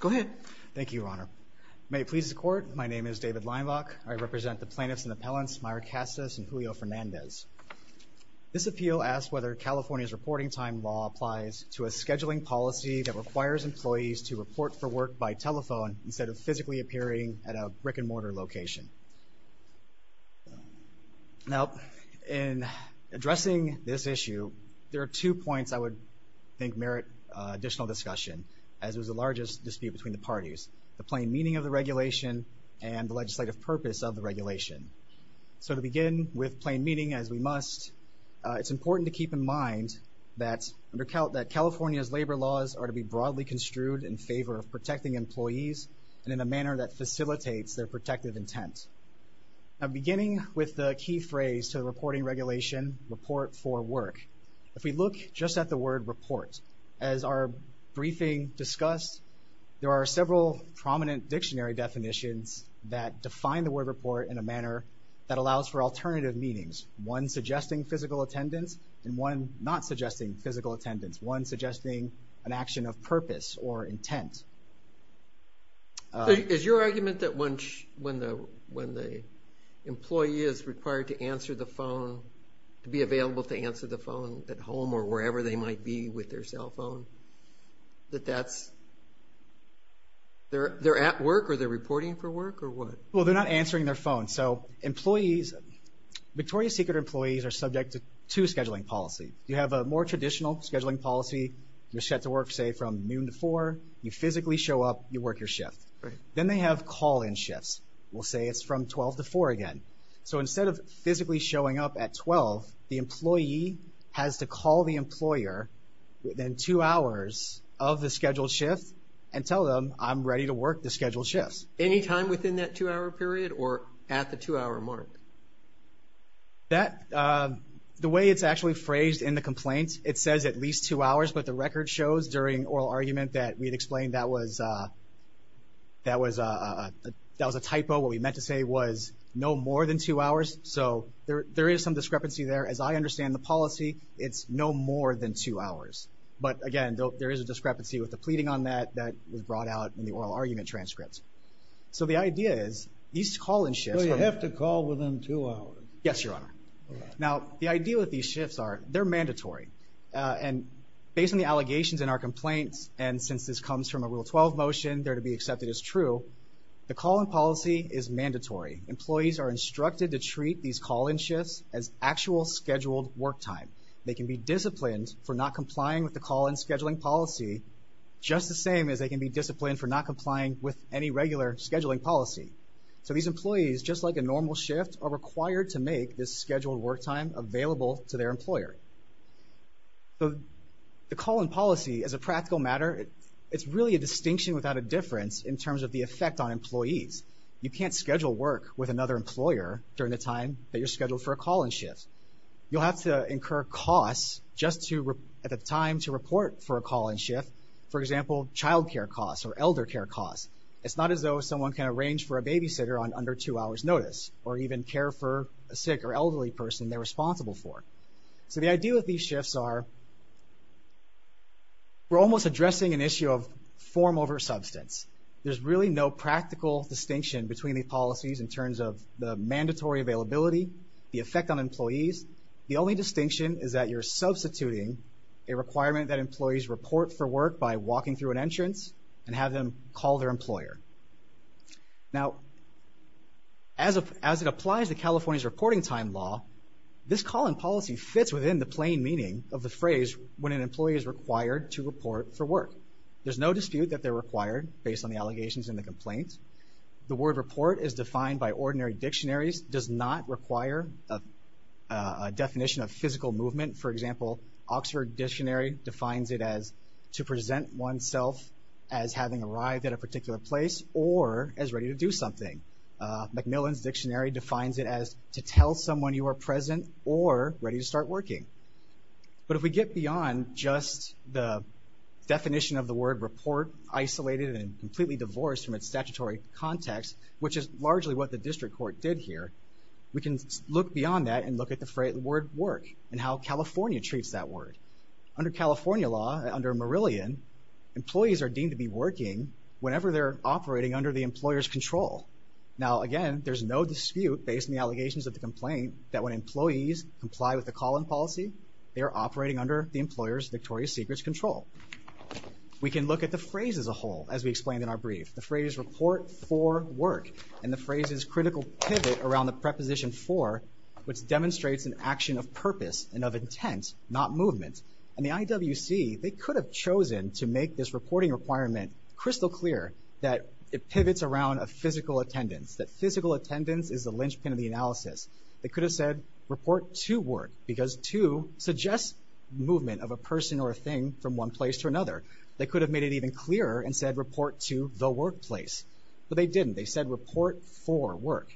Go ahead. Thank you, Your Honor. May it please the Court, my name is David Leinbach. I represent the plaintiffs and appellants Myra Casas and Julio Fernandez. This appeal asks whether California's reporting time law applies to a scheduling policy that requires employees to report for work by telephone instead of physically appearing at a brick-and-mortar location. Now, in addressing this issue, there are two points I would think merit additional discussion, as it was the largest dispute between the parties. The plain meaning of the regulation and the legislative purpose of the regulation. So to begin with plain meaning as we must, it's important to keep in mind that California's labor laws are to be broadly construed in favor of protecting employees and in a manner that facilitates their protective intent. Now, beginning with the key phrase to the reporting regulation, report for work. If we look just at the word report, as our briefing discussed, there are several prominent dictionary definitions that define the word report in a manner that allows for alternative meanings. One suggesting physical attendance and one not suggesting physical when the employee is required to answer the phone, to be available to answer the phone at home or wherever they might be with their cell phone, that that's, they're at work or they're reporting for work or what? Well, they're not answering their phone. So employees, Victoria's Secret employees are subject to scheduling policy. You have a more traditional scheduling policy, you're set to work say from noon to four, you physically show up, you work your shift. Then they have call in shifts. We'll say it's from 12 to four again. So instead of physically showing up at 12, the employee has to call the employer within two hours of the scheduled shift and tell them, I'm ready to work the scheduled shifts. Any time within that two hour period or at the two hour mark? The way it's actually phrased in the complaint, it says at least two hours, but the record shows during oral argument that we'd explained that was a typo. What we meant to say was no more than two hours. So there is some discrepancy there. As I understand the policy, it's no more than two hours. But again, there is a discrepancy with the pleading on that that was brought out in the oral argument transcripts. So the idea is, these call in shifts- So you have to call within two hours? Yes, Your Honor. Now, the idea with these variations in our complaints, and since this comes from a Rule 12 motion, they're to be accepted as true. The call in policy is mandatory. Employees are instructed to treat these call in shifts as actual scheduled work time. They can be disciplined for not complying with the call in scheduling policy, just the same as they can be disciplined for not complying with any regular scheduling policy. So these employees, just like a normal shift, are required to make this scheduled work time available to their employer. The call in policy, as a practical matter, it's really a distinction without a difference in terms of the effect on employees. You can't schedule work with another employer during the time that you're scheduled for a call in shift. You'll have to incur costs just at the time to report for a call in shift. For example, child care costs or elder care costs. It's not as though someone can arrange for a babysitter on under two hours notice, or even care for a sick or elderly person they're responsible for. So the idea with these shifts are we're almost addressing an issue of form over substance. There's really no practical distinction between these policies in terms of the mandatory availability, the effect on employees. The only distinction is that you're substituting a requirement that employees report for work by walking through an entrance and have them call their employer. Now, as it applies to California's reporting time law, this call in policy fits within the plain meaning of the phrase when an employee is required to report for work. There's no dispute that they're required based on the allegations and the complaints. The word report is defined by ordinary dictionaries, does not require a definition of physical movement. For example, Oxford Dictionary defines it as to present oneself as having arrived at a particular place or as ready to do something. Macmillan's Dictionary defines it as to tell someone you are present or ready to start working. But if we get beyond just the definition of the word report, isolated and completely divorced from its statutory context, which is largely what the district court did here, we can look beyond that and look at the phrase the word work and how California treats that Under California law, under Merillian, employees are deemed to be working whenever they're operating under the employer's control. Now, again, there's no dispute based on the allegations of the complaint that when employees comply with the call in policy, they are operating under the employer's Victoria's Secrets control. We can look at the phrase as a whole as we explained in our brief. The phrase report for work and the phrase's critical pivot around the preposition for, which demonstrates an action of purpose and of intent, not movement. And the IWC, they could have chosen to make this reporting requirement crystal clear that it pivots around a physical attendance, that physical attendance is the linchpin of the analysis. They could have said report to work because to suggests movement of a person or a thing from one place to another. They could have made it even clearer and said report to the workplace, but they didn't. They said report for work.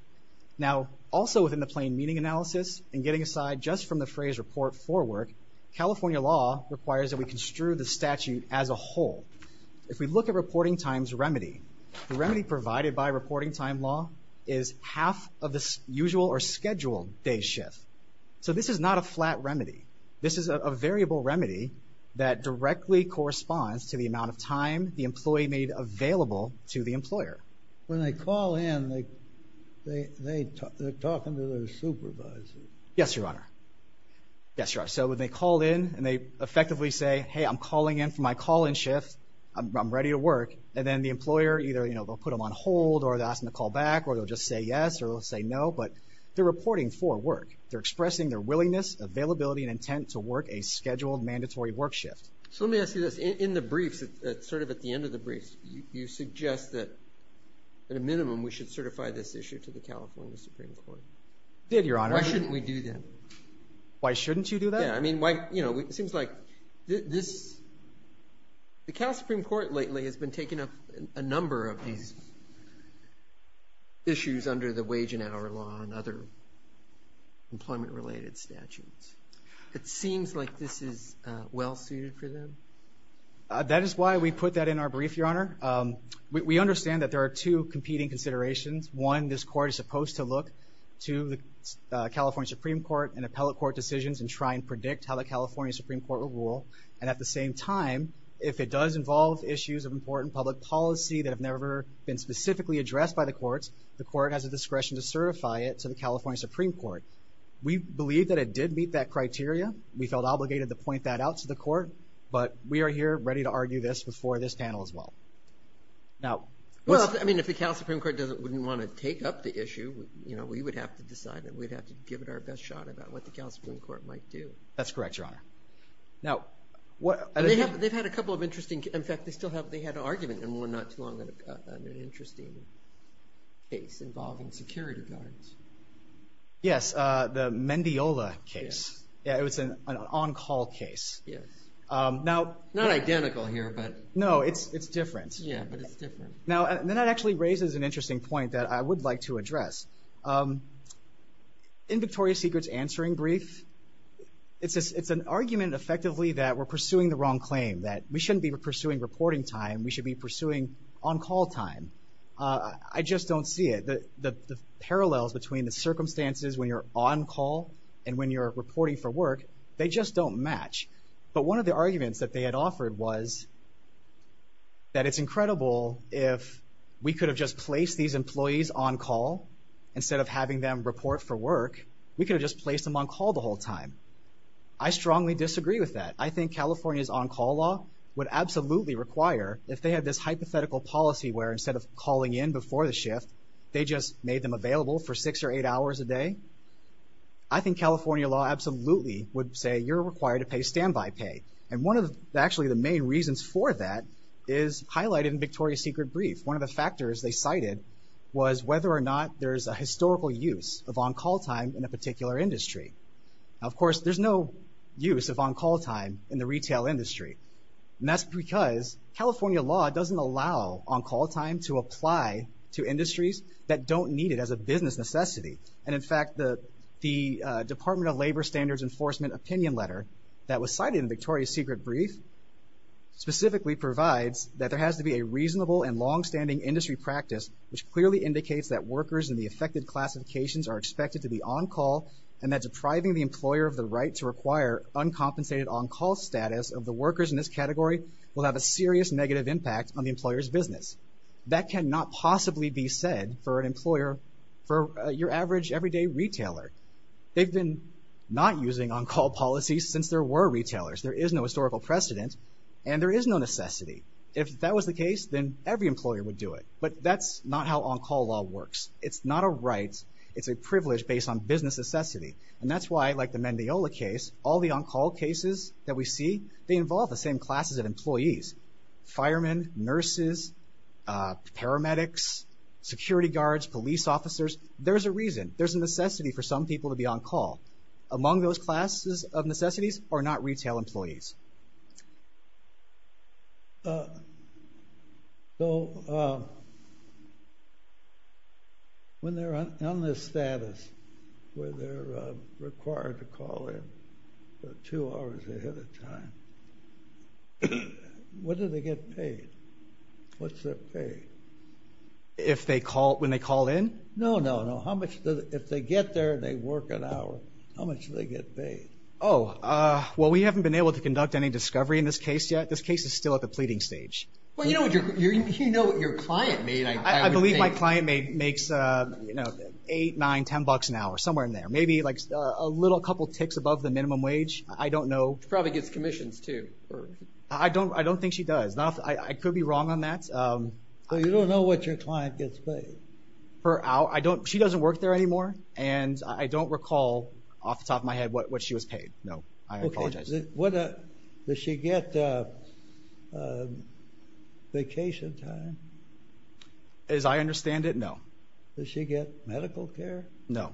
Now, also within the plain meaning analysis and getting aside just from the phrase report for work, California law requires that we construe the statute as a whole. If we look at reporting time's remedy, the remedy provided by reporting time law is half of the usual or scheduled day's shift. So this is not a flat remedy. This is a variable remedy that directly corresponds to the amount of time the employee made available to the employer. When they call in, they're talking to their supervisor. Yes, Your Honor. Yes, Your Honor. So when they call in and they effectively say, hey, I'm calling in for my call-in shift. I'm ready to work. And then the employer either, you know, they'll put them on hold or they'll ask them to call back or they'll just say yes or they'll say no, but they're reporting for work. They're expressing their willingness, availability, and intent to work a scheduled mandatory work shift. So let me ask you this. In the briefs, sort of at the end of the briefs, you suggest that at a minimum, we should certify this issue to the California Supreme Court. We did, Your Honor. Why shouldn't we do that? Why shouldn't you do that? Yeah, I mean, why, you know, it seems like this, the California Supreme Court lately has been taking up a number of these issues under the wage and hour law and other employment related statutes. It seems like this is well suited for them. That is why we put that in our brief, Your Honor. We understand that there are two competing considerations. One, this court is supposed to look to the California Supreme Court and appellate court decisions and try and predict how the California Supreme Court will rule. And at the same time, if it does involve issues of important public policy that have never been specifically addressed by the courts, the court has a discretion to certify it to the California Supreme Court. We believe that it did meet that criteria. We felt obligated to point that out to the court, but we are here ready to argue this before this panel as well. Now, what's... Well, I mean, if the California Supreme Court doesn't, wouldn't want to take up the issue, you know, we would have to decide that we'd have to give it our best shot about what the California Supreme Court might do. That's correct, Your Honor. Now, what... They have, they've had a couple of interesting, in fact, they still have, they had an argument in one not too long, an interesting case involving security guards. Yes, the Mendiola case. Yeah, it was an on-call case. Yes. Now... Not identical here, but... No, it's, it's different. Yeah, but it's different. Now, and then that actually raises an interesting point that I would like to address. In Victoria Secret's answering brief, it's an argument effectively that we're pursuing the wrong claim, that we shouldn't be pursuing reporting time, we should be pursuing on-call time. I just don't see it. The parallels between the circumstances when you're on-call and when you're reporting for work, they just don't match. But one of the arguments that they had offered was that it's incredible if we could have just placed these employees on-call instead of having them report for work, we could have just placed them on-call the whole time. I strongly disagree with that. I think California's on-call law would absolutely require, if they had this hypothetical policy where instead of calling in before the shift, they just made them available for six or eight hours a day, I think California law absolutely would say you're required to pay standby pay. And one of the, actually the main reasons for that is highlighted in Victoria Secret brief. One of the factors they cited was whether or not there's a historical use of on-call time in a particular industry. Now, of course, there's no use of on-call time in the retail industry. And that's because California law doesn't allow on-call time to apply to industries that don't need it as a business necessity. And in fact, the Department of Labor Standards Enforcement opinion letter that was cited in Victoria Secret brief specifically provides that there has to be a reasonable and long-standing industry practice which clearly indicates that workers in the affected classifications are expected to be on-call and that depriving the employer of the right to require uncompensated on-call status of the workers in this category will have a serious negative impact on the employer's business. That cannot possibly be said for an employer, for your average everyday retailer. They've been not using on-call policies since there were retailers. There is no historical precedent and there is no necessity. If that was the case, then every employer would do it. But that's not how on-call law works. It's not a right. It's a privilege based on business necessity. And that's why, like the Mendiola case, all the on-call cases that we see, they involve the same classes of employees. Firemen, nurses, paramedics, security guards, police officers. There's a reason. There's a necessity for some people to be on-call. Among those classes of necessities are not retail employees. So, when they're on this status where they're required to call in two hours ahead of time, what do they get paid? What's their pay? If they call, when they call in? No, no, no. How much, if they get there and they work an hour, how much do they get paid? Oh, well, we haven't been able to conduct any discovery in this case yet. This case is still at the pleading stage. Well, you know what your client made, I would think. I believe my client makes, you know, eight, nine, ten bucks an hour, somewhere in there. Maybe like a little couple ticks above the minimum wage. I don't know. She probably gets commissions, too. I don't think she does. I could be wrong on that. So, you don't know what your client gets paid? Her hour. She doesn't work there anymore. And I don't recall off the top of my head what she was paid. No. I apologize. Does she get vacation time? As I understand it, no. Does she get medical care? No.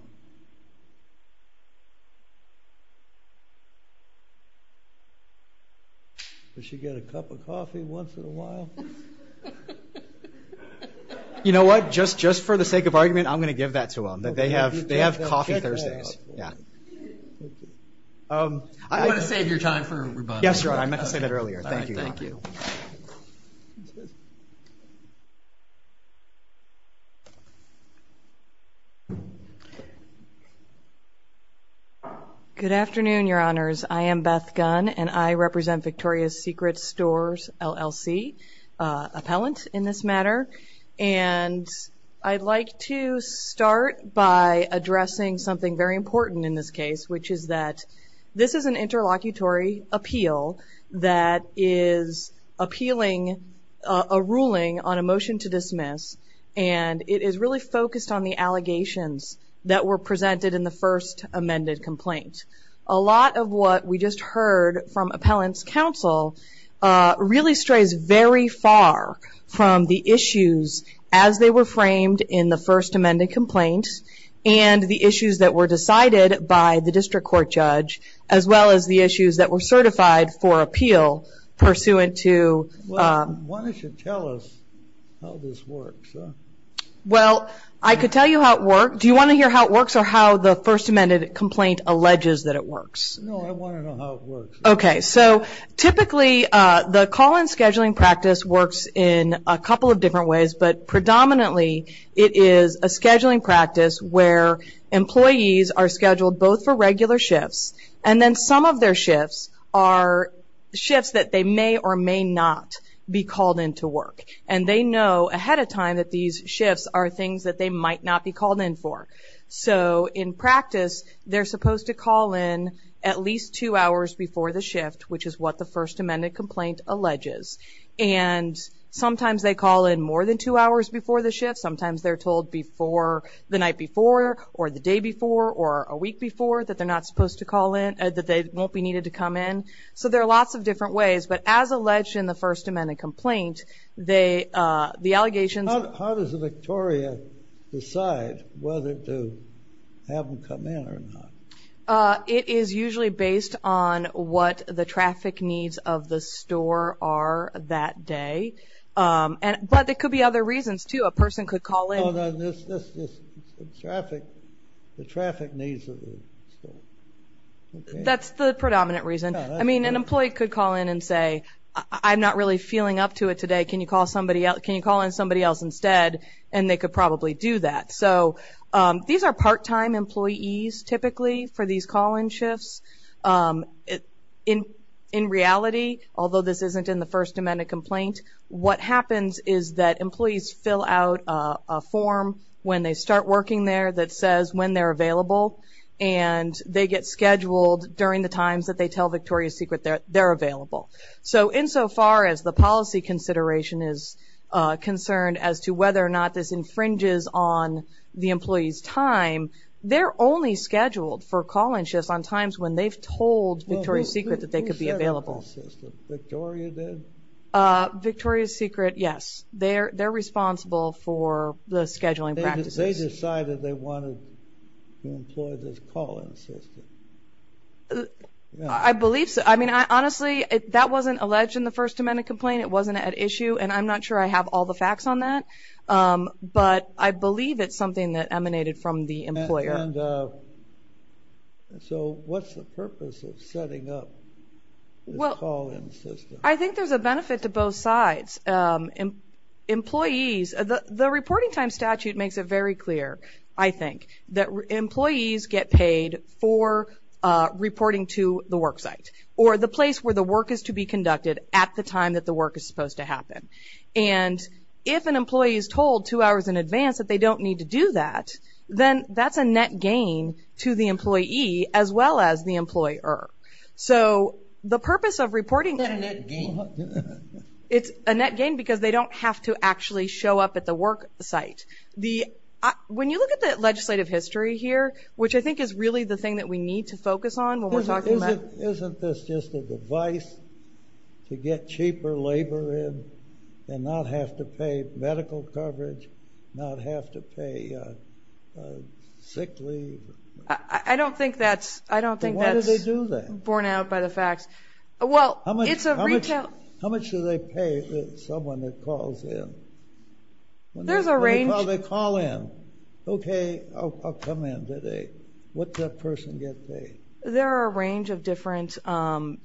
Does she get a cup of coffee once in a while? You know what? Just for the sake of argument, I'm going to give that to them. They have coffee Thursdays. I'm going to save your time for rebuttal. Yes, Your Honor. I meant to say that earlier. Thank you. Good afternoon, Your Honors. I am Beth Gunn, and I represent Victoria's Secret Stores, LLC. Appellant, in this matter. And I'd like to start by addressing something very important in this case, which is that this is an interlocutory appeal that is appealing a ruling on a motion to dismiss, and it is really focused on the allegations that were presented in the first amended complaint. A lot of what we just heard from Appellant's counsel really strays very far from the issue as they were framed in the first amended complaint, and the issues that were decided by the district court judge, as well as the issues that were certified for appeal pursuant to... Why don't you tell us how this works? Do you want to hear how it works, or how the first amended complaint alleges that it works? Predominantly, it is a scheduling practice where employees are scheduled both for regular shifts, and then some of their shifts are shifts that they may or may not be called in to work. And they know ahead of time that these shifts are things that they might not be called in for. So, in practice, they're supposed to call in at least two hours before the shift, which is what the first amended complaint alleges. And sometimes they call in more than two hours before the shift. Sometimes they're told the night before, or the day before, or a week before that they won't be needed to come in. So there are lots of different ways, but as alleged in the first amended complaint, the allegations... How does Victoria decide whether to have them come in or not? It is usually based on what the traffic needs of the store are, that day. But there could be other reasons, too. A person could call in... The traffic needs of the store. That's the predominant reason. I mean, an employee could call in and say, I'm not really feeling up to it today, can you call in somebody else instead? And they could probably do that. So, these are part-time employees, typically, for these call-in shifts. In reality, although this isn't in the first amended complaint, what happens is that employees fill out a form when they start working there that says when they're available. And they get scheduled during the times that they tell Victoria's Secret they're available. So insofar as the policy consideration is concerned as to whether or not this infringes on the employee's time, they're only scheduled for call-in shifts on times when they've told Victoria's Secret that they could be available. Victoria did? Victoria's Secret, yes. They're responsible for the scheduling practices. They decided they wanted to employ this call-in system. I believe so. I mean, honestly, that wasn't alleged in the first amended complaint. It wasn't at issue, and I'm not sure I have all the facts on that. But I believe it's something that emanated from the employer. So what's the purpose of setting up this call-in system? I think there's a benefit to both sides. Employees, the reporting time statute makes it very clear, I think, that employees get paid for reporting to the work site, or the place where the work is to be conducted at the time that the work is supposed to happen. And if an employee is told two hours in advance that they don't need to do that, then that's a net gain to the employee, as well as the employer. So the purpose of reporting... It's a net gain because they don't have to actually show up at the work site. When you look at the legislative history here, which I think is really the thing that we need to focus on when we're talking about... To get cheaper labor in and not have to pay medical coverage, not have to pay sick leave. I don't think that's borne out by the facts. How much do they pay someone that calls in? They call in. Okay, I'll come in today. What does that person get paid? There are a range of different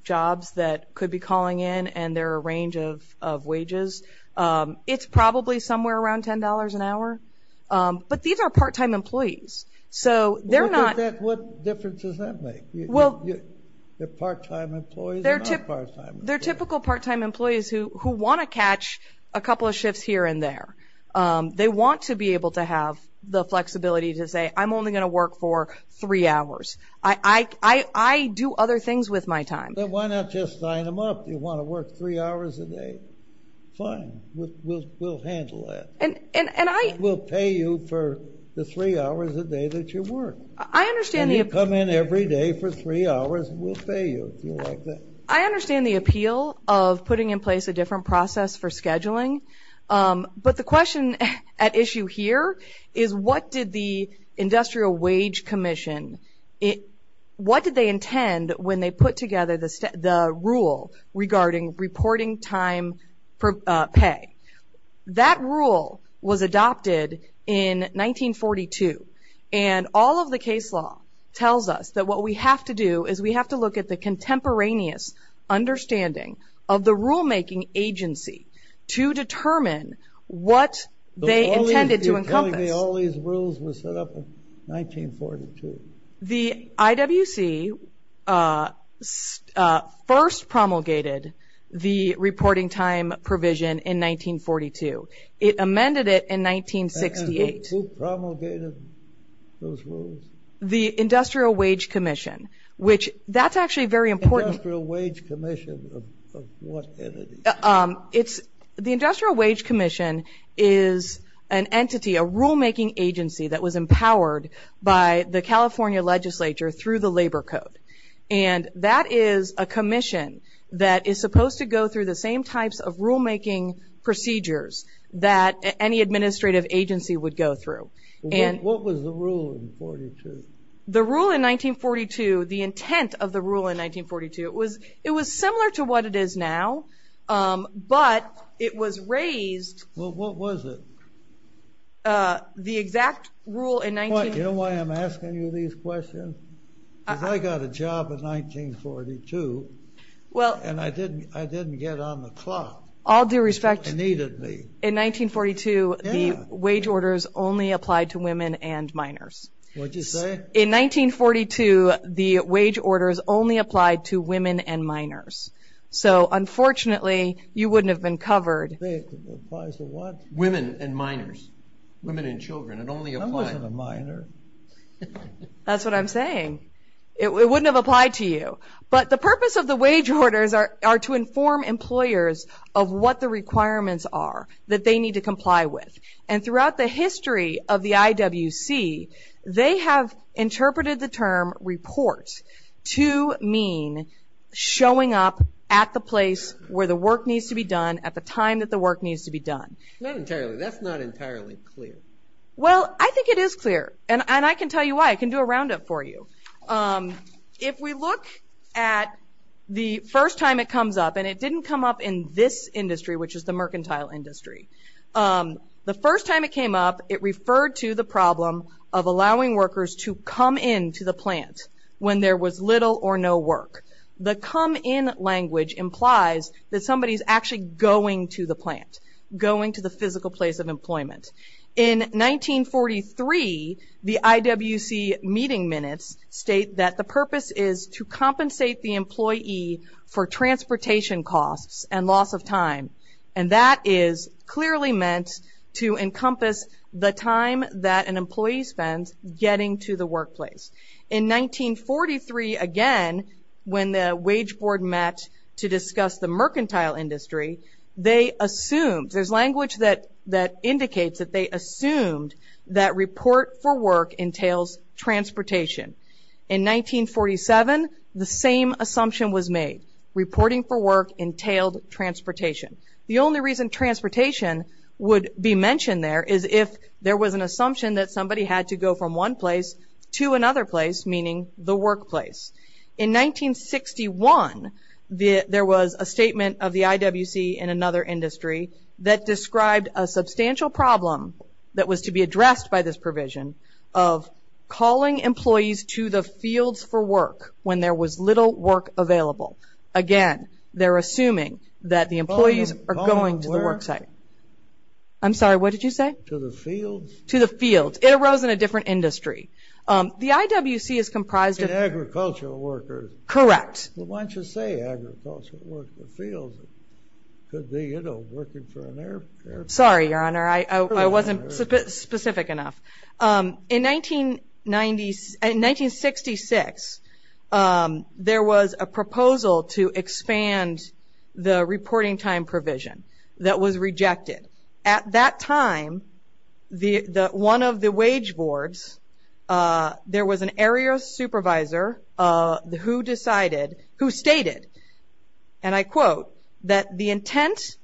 jobs that could be calling in, and there are a range of wages. It's probably somewhere around $10 an hour. But these are part-time employees. What difference does that make? They're part-time employees. They're typical part-time employees who want to catch a couple of shifts here and there. They want to be able to have the flexibility to say, I'm only going to work for three hours. I do other things with my time. Why not just sign them up? Do you want to work three hours a day? Fine. We'll handle that. We'll pay you for the three hours a day that you work. And you come in every day for three hours, and we'll pay you. I understand the appeal of putting in place a different process for scheduling. But the question at issue here is, what did the Industrial Wage Commission, what did they intend when they put together the rule regarding reporting time per pay? That rule was adopted in 1942. And all of the case law tells us that what we have to do is we have to look at the contemporaneous understanding of the rulemaking agency to determine what they intended to encompass. All these rules were set up in 1942. The IWC first promulgated the reporting time provision in 1942. It amended it in 1968. Who promulgated those rules? The Industrial Wage Commission, which that's actually very important. Industrial Wage Commission of what entity? The Industrial Wage Commission is an entity, a rulemaking agency that was empowered by the California legislature through the labor code. And that is a commission that is supposed to go through the same types of rulemaking procedures that any administrative agency would go through. What was the rule in 1942? The rule in 1942, the intent of the rule in 1942, it was similar to what it is now, but it was raised. What was it? The exact rule in 1942. You know why I'm asking you these questions? Because I got a job in 1942, and I didn't get on the clock. All due respect, in 1942, the wage orders only applied to women and minors. In 1942, the wage orders only applied to women and minors. So, unfortunately, you wouldn't have been covered. That's what I'm saying. It wouldn't have applied to you. But the purpose of the wage orders are to inform employers of what the requirements are that they need to comply with. And throughout the history of the IWC, they have interpreted the term report to mean showing up at the place where the work needs to be done at the time that the work needs to be done. Not entirely. That's not entirely clear. Well, I think it is clear, and I can tell you why. I can do a roundup for you. If we look at the first time it comes up, and it didn't come up in this industry, which is the mercantile industry. The first time it came up, it referred to the problem of allowing workers to come in to the plant when there was little or no work. The come in language implies that somebody is actually going to the plant. Going to the physical place of employment. In 1943, the IWC meeting minutes state that the purpose is to compensate the employee for transportation costs and loss of time. And that is clearly meant to encompass the time that an employee spends getting to the workplace. In 1943, again, when the wage board met to discuss the mercantile industry, they assumed, there's language that indicates that they assumed that report for work entails transportation. In 1947, the same assumption was made. Reporting for work entailed transportation. The only reason transportation would be mentioned there is if there was an assumption that somebody had to go from one place to another place, meaning the workplace. In 1961, there was a statement of the IWC and another industry that described a substantial problem that was to be addressed by this provision of calling employees to the fields for work when there was little work available. Again, they're assuming that the employees are going to the work site. I'm sorry, what did you say? To the fields. It arose in a different industry. The IWC is comprised of agricultural workers. Why don't you say agricultural workers? Sorry, your honor, I wasn't specific enough. In 1966, there was a proposal to expand the reporting time provision that was rejected. At that time, one of the wage boards, there was an area supervisor who decided who stated, and I quote, that the intent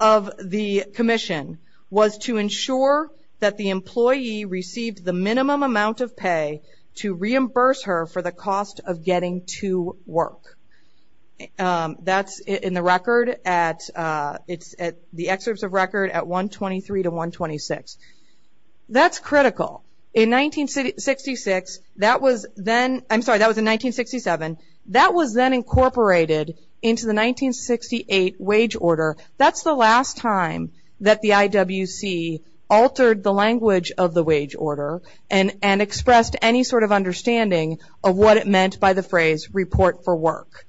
of the commission was to ensure that the employee received the minimum amount of pay to reimburse her for the cost of getting to work. That's in the record at, it's at the excerpts of record at 123 to 126. That's critical. In 1966, that was then, I'm sorry, that was in 1967, that was then incorporated into the 1968 wage order. That's the last time that the IWC altered the language of the wage order and expressed any sort of understanding of what it meant by the phrase report for work.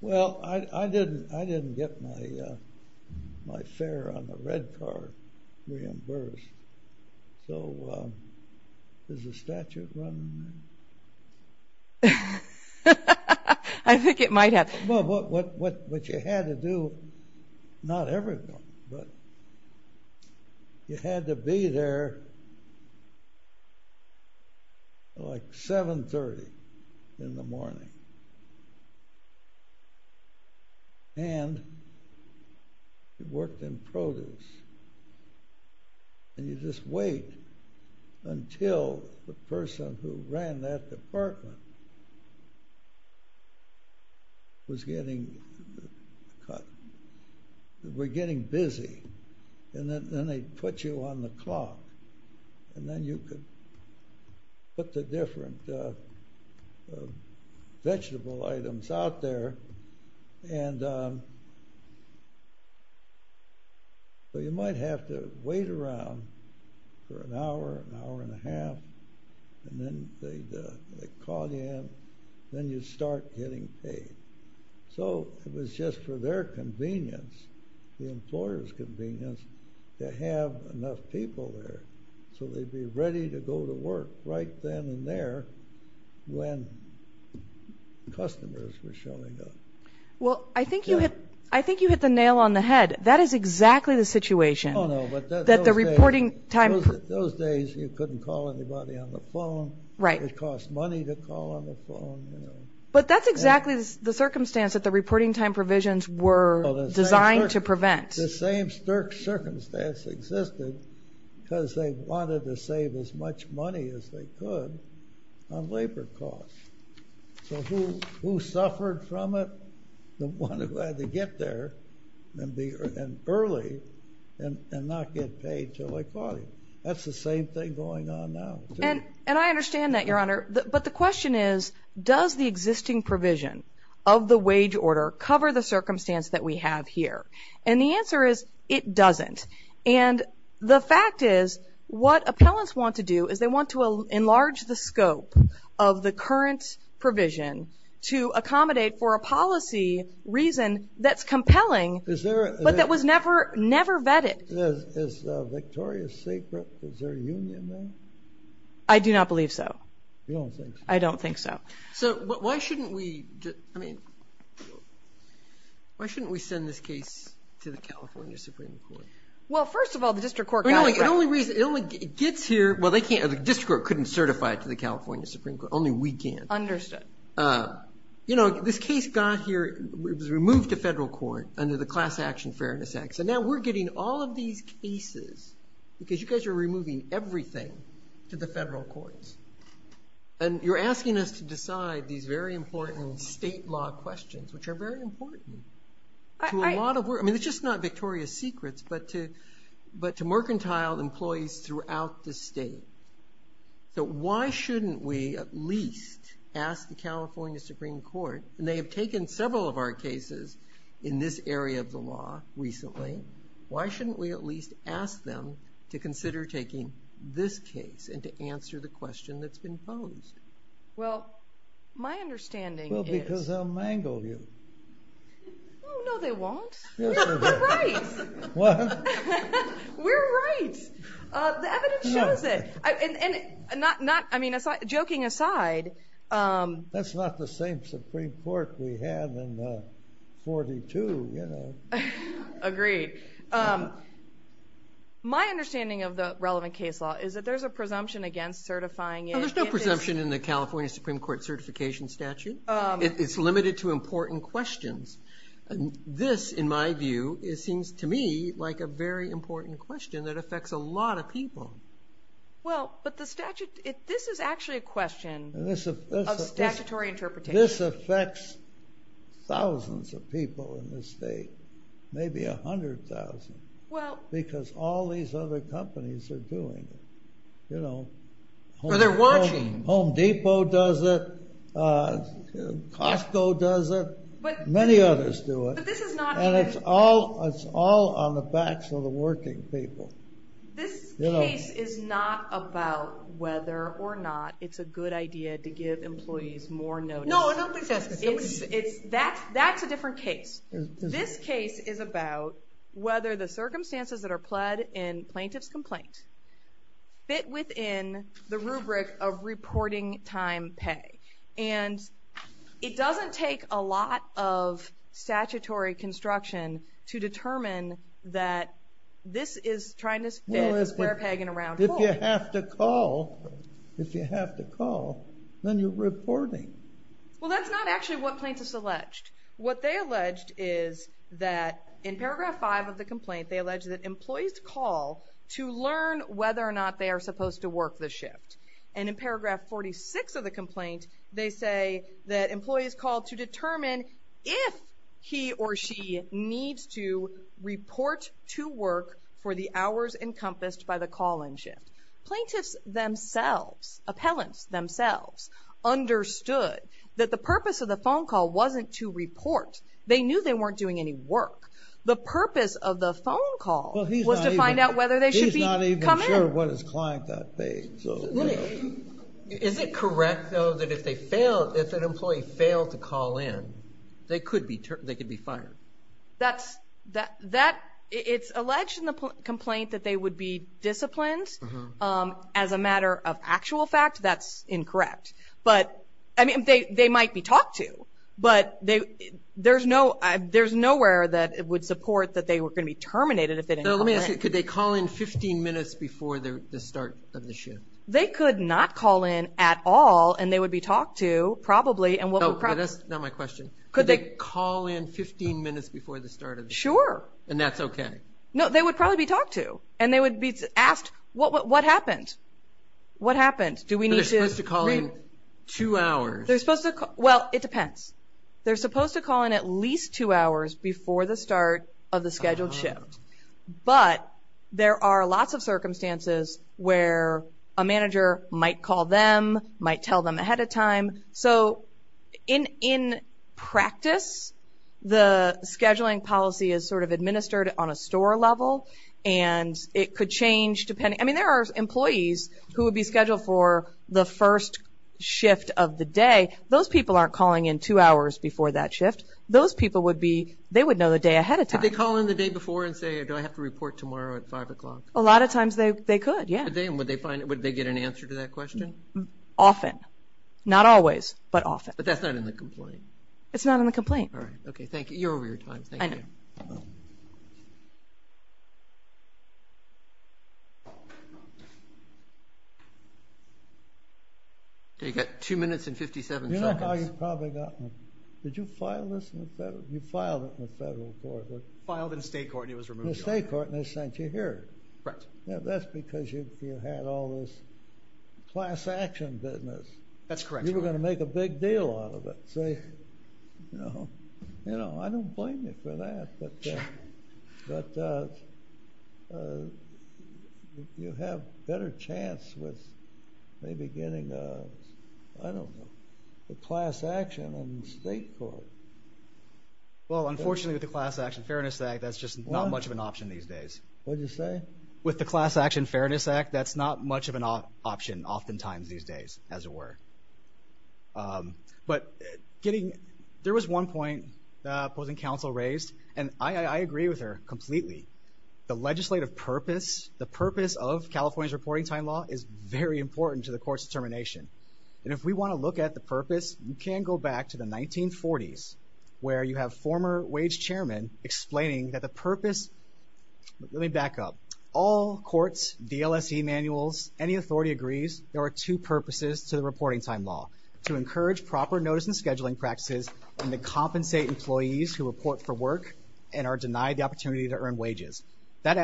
Well, I didn't get my fare on the red card reimbursed. So is the statute running? I think it might have. Well, what you had to do, not everyone, but you had to be there like 730 in the morning. And you worked in produce. And you'd just wait until the person who ran that department was getting cut, were getting busy, and then they'd put you on the clock. And then you could put the different vegetable items out there. And so you might have to wait around for an hour, an hour and a half, and then they'd call you in. Then you'd start getting paid. So it was just for their convenience, the employer's convenience, to have enough people there so they'd be ready to go to work right then and there when customers were showing up. Well, I think you hit the nail on the head. That is exactly the situation. Those days you couldn't call anybody on the phone. It cost money to call on the phone. But that's exactly the circumstance that the reporting time provisions were designed to prevent. The same circumstance existed because they wanted to save as much money as they could on labor costs. So who suffered from it? The one who had to get there early and not get paid until they caught him. That's the same thing going on now. But the question is, does the existing provision of the wage order cover the circumstance that we have here? And the answer is, it doesn't. And the fact is, what appellants want to do is they want to enlarge the scope of the current provision to accommodate for a policy reason that's compelling, but that was never vetted. Is Victoria sacred? Is there a union there? I do not believe so. I don't think so. Why shouldn't we send this case to the California Supreme Court? The district court couldn't certify it to the California Supreme Court. Only we can. This case was removed to federal court under the Class Action Fairness Act. So now we're getting all of these cases because you guys are removing everything to the federal courts. And you're asking us to decide these very important state law questions, which are very important to a lot of work. I mean, it's just not Victoria's Secrets, but to mercantile employees throughout the state. So why shouldn't we at least ask the California Supreme Court? And they have taken several of our cases in this area of the law recently. Why shouldn't we at least ask them to consider taking this case and to answer the question that's been posed? Well, my understanding is... Well, because they'll mangle you. Oh, no, they won't. We're right. What? The evidence shows it. Joking aside... That's not the same Supreme Court we had in 1942. Agreed. My understanding of the relevant case law is that there's a presumption against certifying it. Well, there's no presumption in the California Supreme Court certification statute. It's limited to important questions. This, in my view, seems to me like a very important question that affects a lot of people. Well, but this is actually a question of statutory interpretation. This affects thousands of people in this state. Maybe a hundred thousand. Because all these other companies are doing it. Home Depot does it. Costco does it. Many others do it. And it's all on the backs of the working people. This case is not about whether or not it's a good idea to give employees more notice. That's a different case. This case is about whether the circumstances that are pled in plaintiff's complaint fit within the rubric of reporting time pay. And it doesn't take a lot of statutory construction to determine that this is trying to fit a square peg in a round hole. If you have to call, if you have to call, then you're reporting. Well, that's not actually what plaintiffs alleged. What they alleged is that in paragraph 5 of the complaint, they alleged that employees call to learn whether or not they are supposed to work the shift. And in paragraph 46 of the complaint, they say that employees call to determine if he or she needs to report to work for the hours encompassed by the call-in shift. Appellants themselves understood that the purpose of the phone call wasn't to report. They knew they weren't doing any work. The purpose of the phone call was to find out whether they should come in. I'm not sure what his client got paid. Is it correct, though, that if an employee failed to call in, they could be fired? It's alleged in the complaint that they would be disciplined as a matter of actual fact. That's incorrect. They might be talked to, but there's nowhere that it would support that they were going to be terminated if they didn't call in. Could they call in 15 minutes before the start of the shift? They could not call in at all, and they would be talked to, probably. Could they call in 15 minutes before the start of the shift? Sure. And that's okay? No, they would probably be talked to, and they would be asked what happened. They're supposed to call in two hours? Well, it depends. They're supposed to call in at least two hours before the start of the scheduled shift. But there are lots of circumstances where a manager might call them, might tell them ahead of time. In practice, the scheduling policy is sort of administered on a store level, and it could change. There are employees who would be scheduled for the first shift of the day. Those people aren't calling in two hours before that shift. They would know the day ahead of time. Would they call in the day before and say, do I have to report tomorrow at 5 o'clock? A lot of times they could, yeah. Often. Not always, but often. But that's not in the complaint? It's not in the complaint. Okay, thank you. You're over your time. You've got two minutes and 57 seconds. Did you file this in the federal court? Filed in the state court and it was removed. In the state court and they sent you here. That's because you had all this class action business. You were going to make a big deal out of it. I don't blame you for that, but you have a better chance with maybe getting a class action in the state court. Well, unfortunately with the Class Action Fairness Act, that's just not much of an option these days. What'd you say? With the Class Action Fairness Act, that's not much of an option oftentimes these days, as it were. There was one point the opposing counsel raised, and I agree with her completely. The legislative purpose, the purpose of California's reporting time law is very important to the court's where you have former wage chairman explaining that the purpose... Let me back up. All courts, DLSE manuals, any authority agrees there are two purposes to the reporting time law. To encourage proper notice and scheduling practices, and to compensate employees who report for work and are denied the opportunity to earn wages. That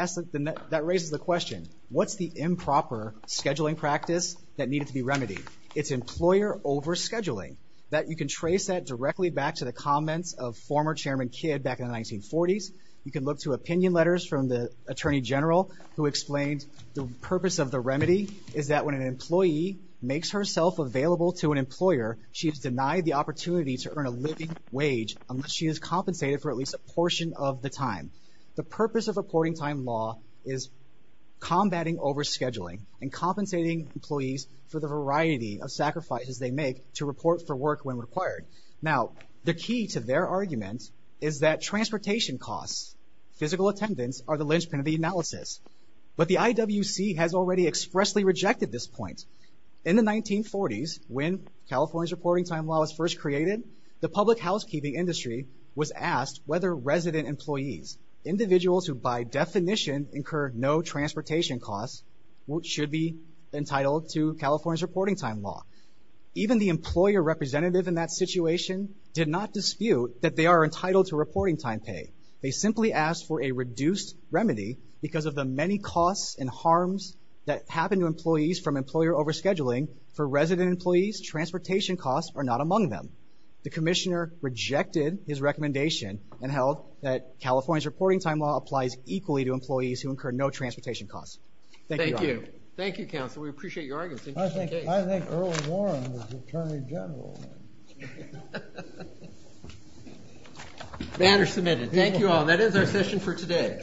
raises the question, what's the improper scheduling practice that needed to be remedied? It's employer overscheduling. You can trace that directly back to the comments of former chairman Kidd back in the 1940s. You can look to opinion letters from the attorney general who explained the purpose of the remedy is that when an employee makes herself available to an employer, she is denied the opportunity to earn a living wage unless she is compensated for at least a portion of the time. The purpose of reporting time law is combating overscheduling and compensating employees for the variety of sacrifices they make to report for work when required. Now, the key to their argument is that transportation costs, physical attendance, are the linchpin of the analysis. But the IWC has already expressly rejected this point. In the 1940s, when California's reporting time law was first created, the public housekeeping industry was asked whether resident employees, individuals who by definition incurred no transportation costs, should be entitled to California's reporting time law. Even the employer representative in that situation did not dispute that they are entitled to reporting time pay. They simply asked for a reduced remedy because of the many costs and harms that happen to employees from employer overscheduling. For resident employees, transportation costs are not among them. The commissioner rejected his recommendation and held that California's reporting time law applies equally to employees who incur no transportation costs. Thank you, Your Honor. Thank you, Counsel. We appreciate your argument. I think Earl Warren is Attorney General. Manner submitted. Thank you all. That is our session for today.